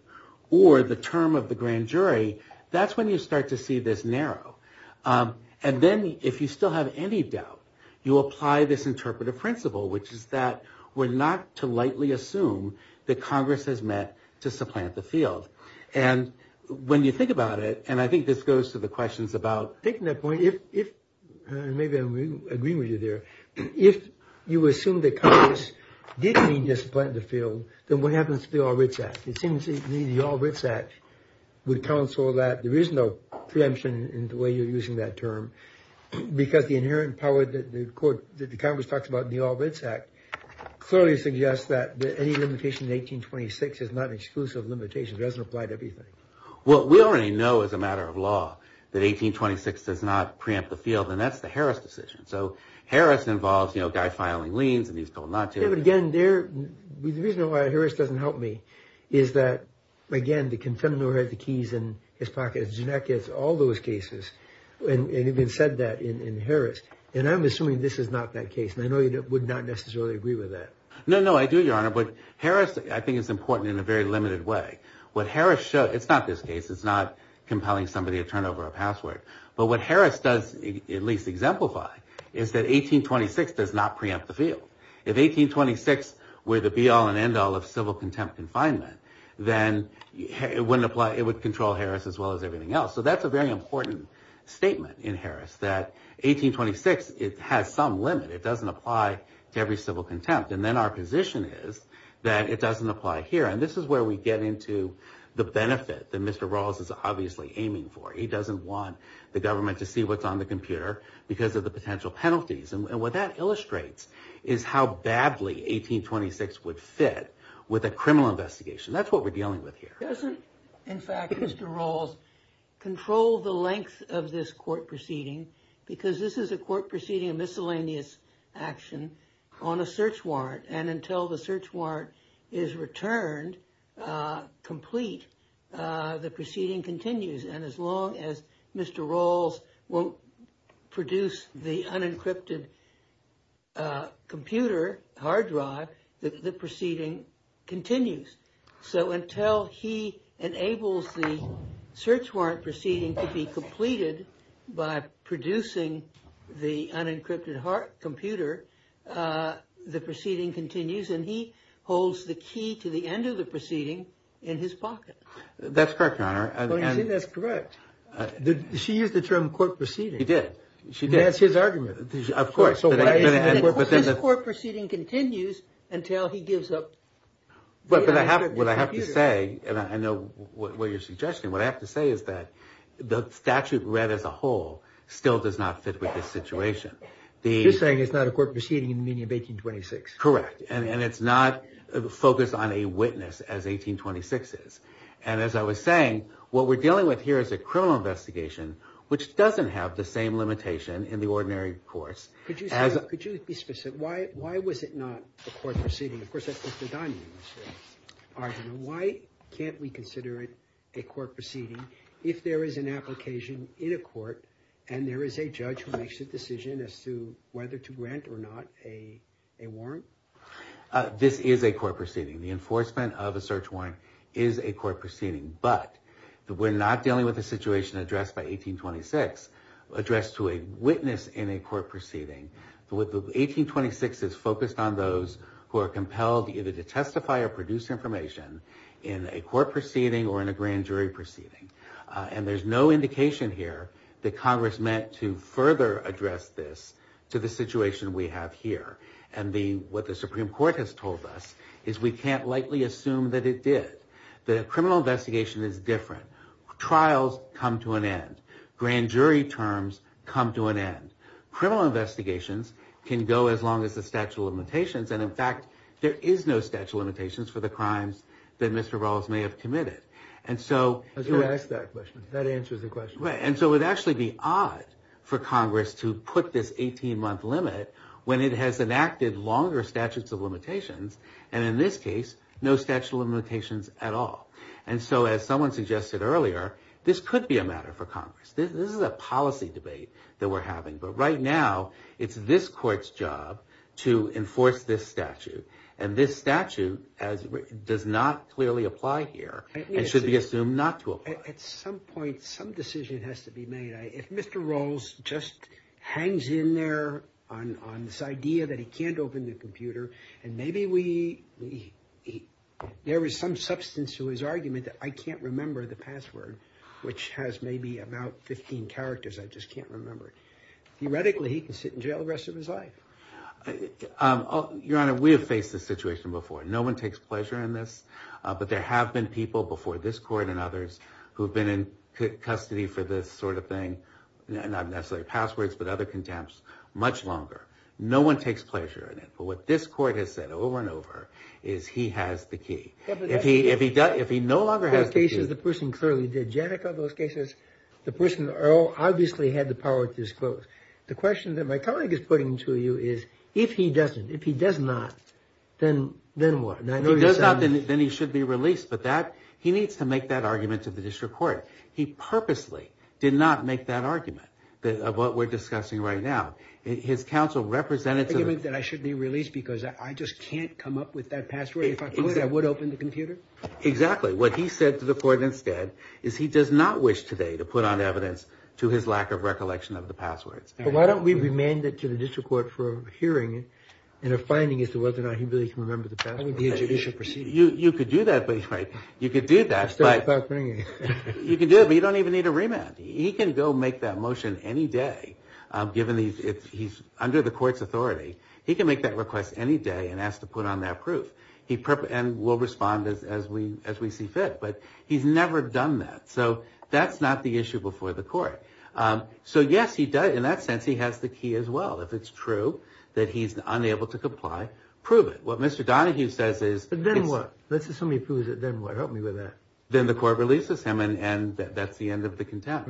or the term of the grand jury. That's when you start to see this narrow. And then if you still have any doubt, you apply this interpretive principle, which is that we're not to lightly assume that Congress has met to supplant the field. And when you think about it, and I think this goes to the questions about Taking that point, if maybe I agree with you there, if you assume that Congress did mean to supplant the field, then what happens to the All Writs Act? It seems the All Writs Act would counsel that there is no preemption in the way you're using that term, because the inherent power that the Congress talks about in the All Writs Act clearly suggests that any limitation in 1826 is not an exclusive limitation. It doesn't apply to everything. Well, we already know as a matter of law that 1826 does not preempt the field, and that's the Harris decision. So Harris involves a guy filing liens, and he's told not to. Yeah, but again, the reason why Harris doesn't help me is that, again, the confederate who had the keys in his pocket, did not get all those cases, and even said that in Harris. And I'm assuming this is not that case. And I know you would not necessarily agree with that. No, no, I do, Your Honor. But Harris, I think, is important in a very limited way. What Harris shows, it's not this case. It's not compelling somebody to turn over a password. But what Harris does at least exemplify is that 1826 does not preempt the field. If 1826 were the be-all and end-all of civil contempt confinement, then it wouldn't apply. It would control Harris as well as everything else. So that's a very important statement in Harris, that 1826, it has some limit. It doesn't apply to every civil contempt. And then our position is that it doesn't apply here. And this is where we get into the benefit that Mr. Rawls is obviously aiming for. He doesn't want the government to see what's on the computer because of the potential penalties. And what that illustrates is how badly 1826 would fit with a criminal investigation. That's what we're dealing with here. It doesn't, in fact, Mr. Rawls, control the length of this court proceeding because this is a court proceeding, a miscellaneous action on a search warrant. And until the search warrant is returned complete, the proceeding continues. And as long as Mr. Rawls won't produce the unencrypted computer hard drive, the proceeding continues. So until he enables the search warrant proceeding to be completed by producing the unencrypted hard computer, the proceeding continues. And he holds the key to the end of the proceeding in his pocket. That's correct, Your Honor. Well, you see, that's correct. She used the term court proceeding. She did. She did. That's his argument. Of course. This court proceeding continues until he gives up the unencrypted computer. But what I have to say, and I know what you're suggesting, what I have to say is that the statute read as a whole still does not fit with this situation. You're saying it's not a court proceeding in the meaning of 1826. Correct. And it's not focused on a witness as 1826 is. And as I was saying, what we're dealing with here is a criminal investigation which doesn't have the same limitation in the ordinary courts Could you be specific? Why was it not a court proceeding? Of course, that's Mr. Donahue's argument. Why can't we consider it a court proceeding if there is an application in a court and there is a judge who makes a decision as to whether to grant or not a warrant? This is a court proceeding. The enforcement of a search warrant is a court proceeding. But we're not dealing with a situation addressed by 1826 addressed to a witness in a court proceeding. 1826 is focused on those who are compelled either to testify or produce information in a court proceeding or in a grand jury proceeding. And there's no indication here that Congress meant to further address this to the situation we have here. And what the Supreme Court has told us is we can't lightly assume that it did. The criminal investigation is different. Trials come to an end. Grand jury terms come to an end. Criminal investigations can go as long as the statute of limitations. And in fact, there is no statute of limitations for the crimes that Mr. Rawls may have committed. And so... Who asked that question? That answers the question. And so it would actually be odd for Congress to put this 18-month limit when it has enacted longer statutes of limitations. And in this case, no statute of limitations at all. And so as someone suggested earlier, this could be a matter for Congress. This is a policy debate that we're having. But right now, it's this court's job to enforce this statute. And this statute does not clearly apply here and should be assumed not to apply. At some point, some decision has to be made. If Mr. Rawls just hangs in there on this idea that he can't open the computer and maybe there is some substance to his argument that I can't remember the password, which has maybe about 15 characters, I just can't remember it. Theoretically, he can sit in jail the rest of his life. Your Honor, we have faced this situation before. No one takes pleasure in this. But there have been people before this court and others who have been in custody for this sort of thing, not necessarily passwords, but other contempts, much longer. No one takes pleasure in it. But what this court has said over and over is he has the key. If he no longer has the key... In those cases, the person clearly did. Janneke, in those cases, the person obviously had the power to disclose. The question that my colleague is putting to you is, if he doesn't, if he does not, then what? If he does not, then he should be released. But he needs to make that argument to the district court. He purposely did not make that argument of what we're discussing right now. His counsel represented... The argument that I should be released because I just can't come up with that password. If I would, I would open the computer. Exactly. What he said to the court instead is he does not wish today to put on evidence to his lack of recollection of the passwords. But why don't we remand it to the district court for a hearing and a finding as to whether or not he really can remember the password? That would be a judicial procedure. You could do that, but you could do that. You can do it, but you don't even need a remand. He can go make that motion any day, given he's under the court's authority. He can make that request any day and ask to put on that proof. And we'll respond as we see fit. But he's never done that. So that's not the issue before the court. So yes, in that sense, he has the key as well. If it's true that he's unable to comply, prove it. What Mr. Donahue says is... But then what? Let's assume he proves it, then what? Help me with that. Then the court releases him and that's the end of the contempt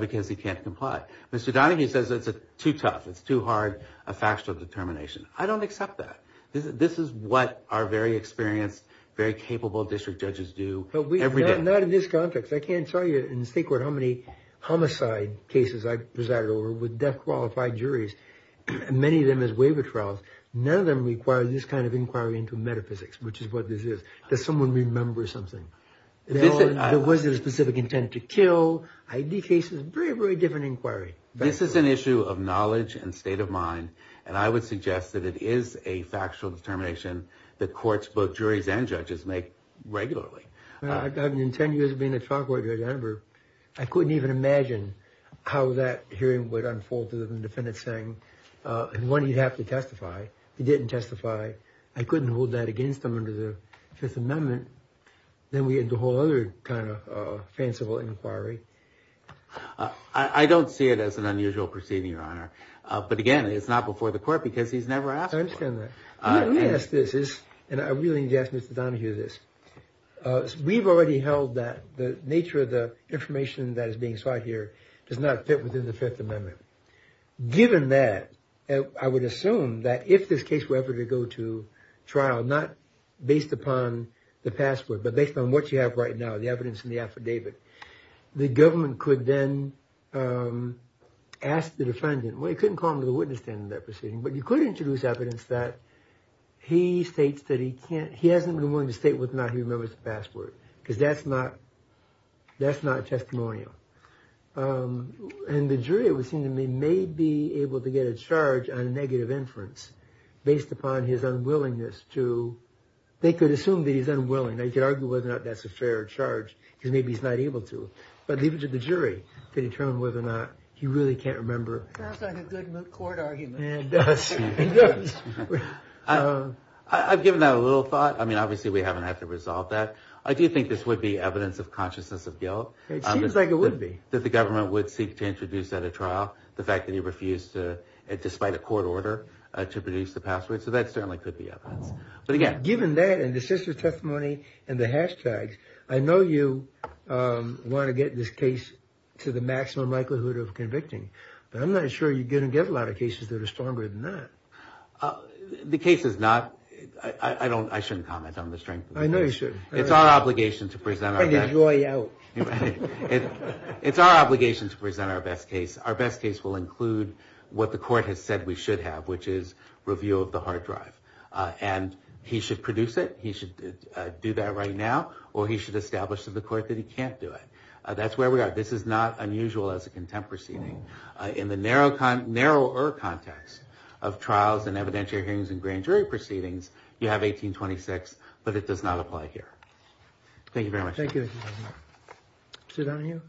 because he can't comply. Mr. Donahue says it's too tough. It's too hard, a factual determination. I don't accept that. This is what our very experienced, very capable district judges do every day. Not in this context. I can't tell you in the state court how many homicide cases I presided over with death qualified juries, many of them as waiver trials. None of them require this kind of inquiry into metaphysics, which is what this is. Does someone remember something? There was a specific intent to kill, ID cases, very, very different inquiry. This is an issue of knowledge and state of mind, and I would suggest that it is a factual determination that courts, both juries and judges, make regularly. In 10 years of being a trial court judge, I remember I couldn't even imagine how that hearing would unfold to the defendant saying when he'd have to testify. He didn't testify. I couldn't hold that against him under the Fifth Amendment. Then we had the whole other kind of fanciful inquiry. I don't see it as an unusual proceeding, Your Honor. But again, it's not before the court because he's never asked for it. I understand that. Let me ask this, and I really need to ask Mr. Donahue this. We've already held that the nature of the information that is being sought here does not fit within the Fifth Amendment. Given that, I would assume that if this case were ever to go to trial, not based upon the password, but based on what you have right now, the evidence in the affidavit, the judge could then ask the defendant. Well, you couldn't call him to the witness stand in that proceeding, but you could introduce evidence that he states that he hasn't been willing to state whether or not he remembers the password because that's not testimonial. And the jury, it would seem to me, may be able to get a charge on a negative inference based upon his unwillingness to, they could assume that he's unwilling. Now, you could argue whether or not that's a fair charge because maybe he's not able to. But even to the jury, to determine whether or not he really can't remember. It sounds like a good court argument. It does. I've given that a little thought. I mean, obviously, we haven't had to resolve that. I do think this would be evidence of consciousness of guilt. It seems like it would be. That the government would seek to introduce at a trial the fact that he refused to, despite a court order, to produce the password. So that certainly could be evidence. Given that, and the sister testimony, and the hashtags, I know you want to get this case to the maximum likelihood of convicting. But I'm not sure you're going to get a lot of cases that are stronger than that. The case is not, I don't, I shouldn't comment on the strength of it. I know you shouldn't. It's our obligation to present. It's our obligation to present our best case. Our best case will include what the court has said we should have, which is review of the hard drive. And he should produce it. He should do that right now. Or he should establish to the court that he can't do it. That's where we are. This is not unusual as a contempt proceeding. In the narrower context of trials, and evidentiary hearings, and grand jury proceedings, you have 1826. But it does not apply here. Thank you very much. Thank you. Sit down here.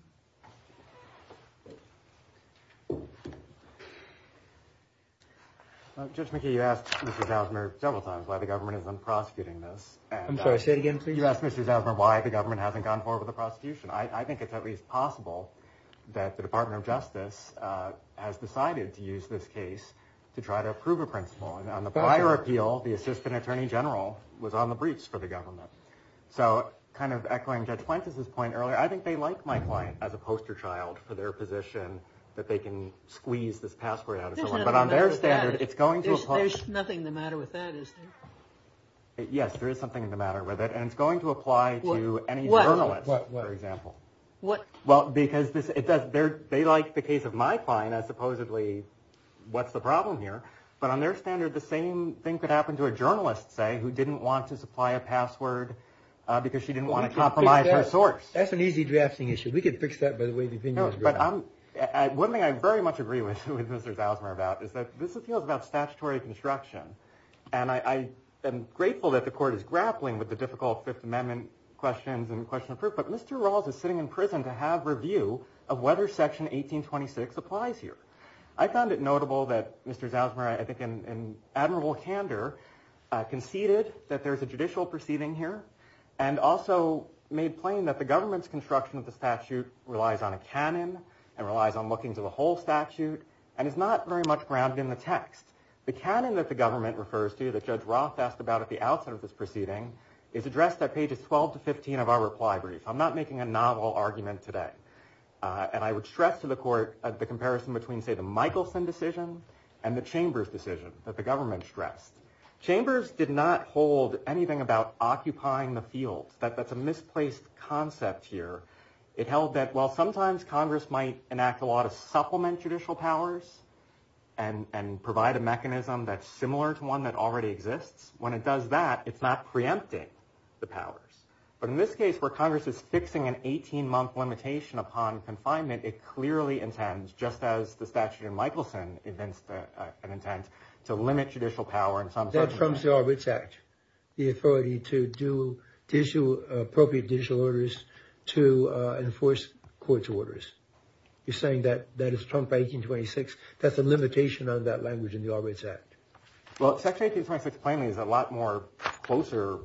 Judge McKee, you asked Mr. Zausmer several times why the government isn't prosecuting this. I'm sorry, say it again, please. You asked Mr. Zausmer why the government hasn't gone forward with the prosecution. I think it's at least possible that the Department of Justice has decided to use this case to try to approve a principle. And on the prior appeal, the assistant attorney general was on the breach for the government. So kind of echoing Judge Plantis' point earlier, I think they like my client. As a poster child for their position that they can squeeze this password out of someone. But on their standard, it's going to apply. There's nothing the matter with that, is there? Yes, there is something in the matter with it. And it's going to apply to any journalist, for example. Well, because they like the case of my client as supposedly what's the problem here. But on their standard, the same thing could happen to a journalist, say, who didn't want to supply a password because she didn't want to compromise her source. That's an easy drafting issue. We could fix that by the way the opinion has grown. No, but one thing I very much agree with Mr. Zalzmer about is that this appeal is about statutory construction. And I am grateful that the court is grappling with the difficult Fifth Amendment questions and question of proof. But Mr. Rawls is sitting in prison to have review of whether Section 1826 applies here. I found it notable that Mr. Zalzmer, I think in admirable candor, conceded that there's a judicial proceeding here. And also made plain that the government's construction of the statute relies on a canon and relies on looking to the whole statute and is not very much grounded in the text. The canon that the government refers to, that Judge Roth asked about at the outset of this proceeding, is addressed at pages 12 to 15 of our reply brief. I'm not making a novel argument today. And I would stress to the court the comparison between, say, the Michelson decision and the Chambers decision that the government stressed. Chambers did not hold anything about occupying the field. That's a misplaced concept here. It held that while sometimes Congress might enact a law to supplement judicial powers and provide a mechanism that's similar to one that already exists, when it does that, it's not preempting the powers. But in this case, where Congress is fixing an 18-month limitation upon confinement, it clearly intends, just as the statute in Michelson intends to limit judicial power and That trumps the All Writs Act, the authority to issue appropriate judicial orders to enforce court's orders. You're saying that is Trump 1826. That's a limitation on that language in the All Writs Act. Well, Section 1826 plainly is a lot more closer,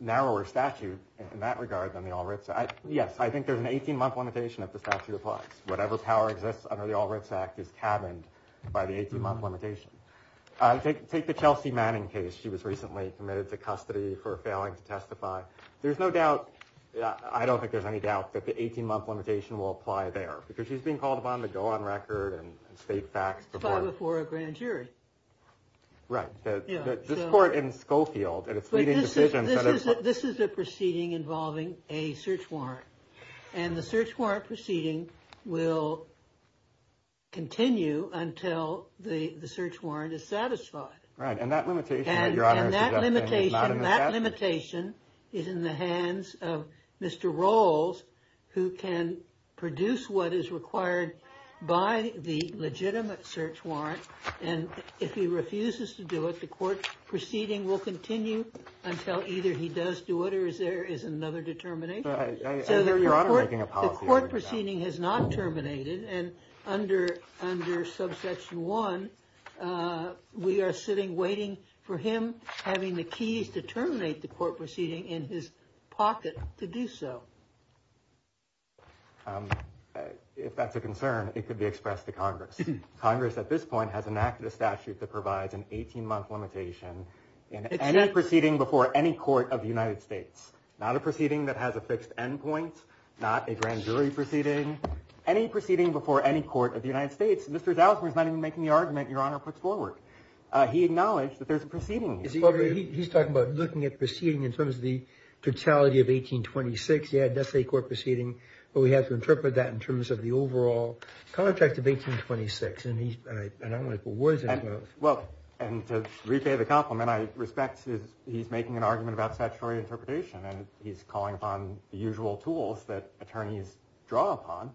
narrower statute in that regard than the All Writs Act. Yes, I think there's an 18-month limitation if the statute applies. Whatever power exists under the All Writs Act is cabined by the 18-month limitation. Take the Chelsea Manning case. She was recently committed to custody for failing to testify. There's no doubt. I don't think there's any doubt that the 18-month limitation will apply there because she's being called upon to go on record and state facts before a grand jury. Right. This court in Schofield and its leading decision. This is a proceeding involving a search warrant. And the search warrant proceeding will continue until the search warrant is satisfied. Right. And that limitation is in the hands of Mr. Rolls, who can produce what is required by the legitimate search warrant. And if he refuses to do it, the court proceeding will continue until either he does do it or there is another determination. So the court proceeding has not terminated. And under subsection 1, we are sitting waiting for him having the keys to terminate the court proceeding in his pocket to do so. If that's a concern, it could be expressed to Congress. Congress at this point has enacted a statute that provides an 18-month limitation in any court of the United States. Not a proceeding that has a fixed endpoint. Not a grand jury proceeding. Any proceeding before any court of the United States, Mr. Zalzmer is not even making the argument Your Honor puts forward. He acknowledged that there's a proceeding. He's talking about looking at proceeding in terms of the totality of 1826. Yeah, that's a court proceeding. But we have to interpret that in terms of the overall contract of 1826. And I don't want to put words in his mouth. Well, and to repay the compliment, I respect he's making an argument about statutory interpretation. And he's calling upon the usual tools that attorneys draw upon.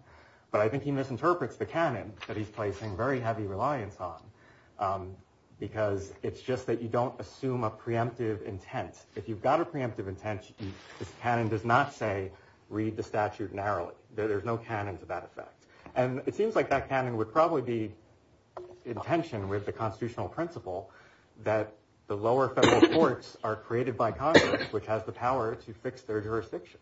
But I think he misinterprets the canon that he's placing very heavy reliance on. Because it's just that you don't assume a preemptive intent. If you've got a preemptive intent, this canon does not say read the statute narrowly. There's no canon to that effect. And it seems like that canon would probably be in tension with the constitutional principle that the lower federal courts are created by Congress, which has the power to fix their jurisdiction.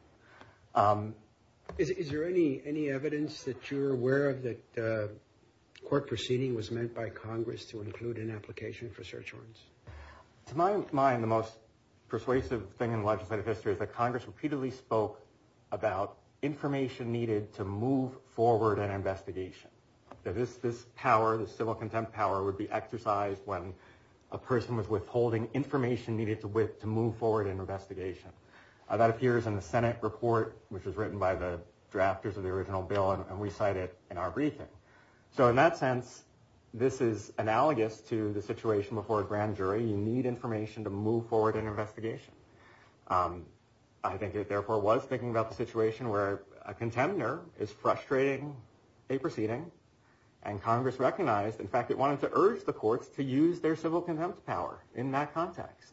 Is there any evidence that you're aware of that court proceeding was meant by Congress to include an application for search warrants? To my mind, the most persuasive thing in legislative history is that Congress repeatedly spoke about information needed to move forward an investigation. That this power, the civil contempt power, would be exercised when a person was withholding information needed to move forward an investigation. That appears in the Senate report, which was written by the drafters of the original bill, and we cite it in our briefing. So in that sense, this is analogous to the situation before a grand jury. You need information to move forward an investigation. I think it therefore was thinking about the situation where a contender is frustrating a proceeding, and Congress recognized, in fact, it wanted to urge the courts to use their civil contempt power in that context.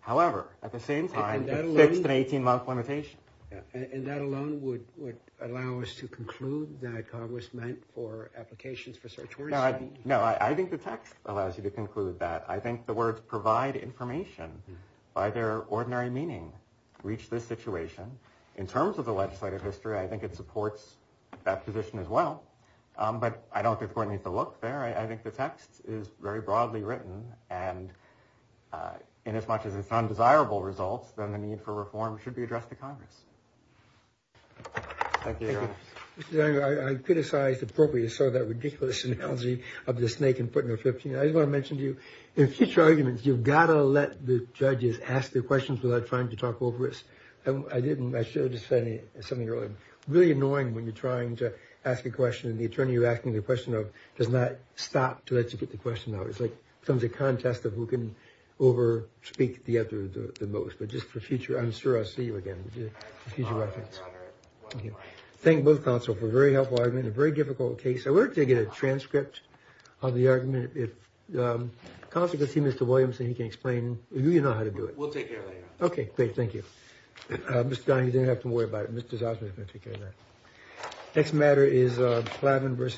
However, at the same time, it fixed an 18-month limitation. And that alone would allow us to conclude that Congress meant for applications for search warrants? No, I think the text allows you to conclude that. I think the words provide information by their ordinary meaning reach this situation. In terms of the legislative history, I think it supports that position as well. But I don't think we're going to need to look there. I think the text is very broadly written. And in as much as it's undesirable results, then the need for reform should be addressed to Congress. Thank you. I criticized appropriately sort of that ridiculous analogy of the snake in Putnam 15. I just want to mention to you, in future arguments, you've got to let the judges ask their questions without trying to talk over it. I didn't. I should have said something earlier. It's really annoying when you're trying to ask a question and the attorney you're asking the question of does not stop to let you get the question out. It's like some of the contest of who can over speak the other the most. But just for future, I'm sure I'll see you again for future reference. Thank both counsel for a very helpful argument, a very difficult case. We're going to get a transcript of the argument. If the consequence seems to Williamson, he can explain. You know how to do it. We'll take care of that. OK, great. Thank you, Mr. Don. You don't have to worry about it. Mr. Zosman is going to take care of that. Next matter is Clavin versus.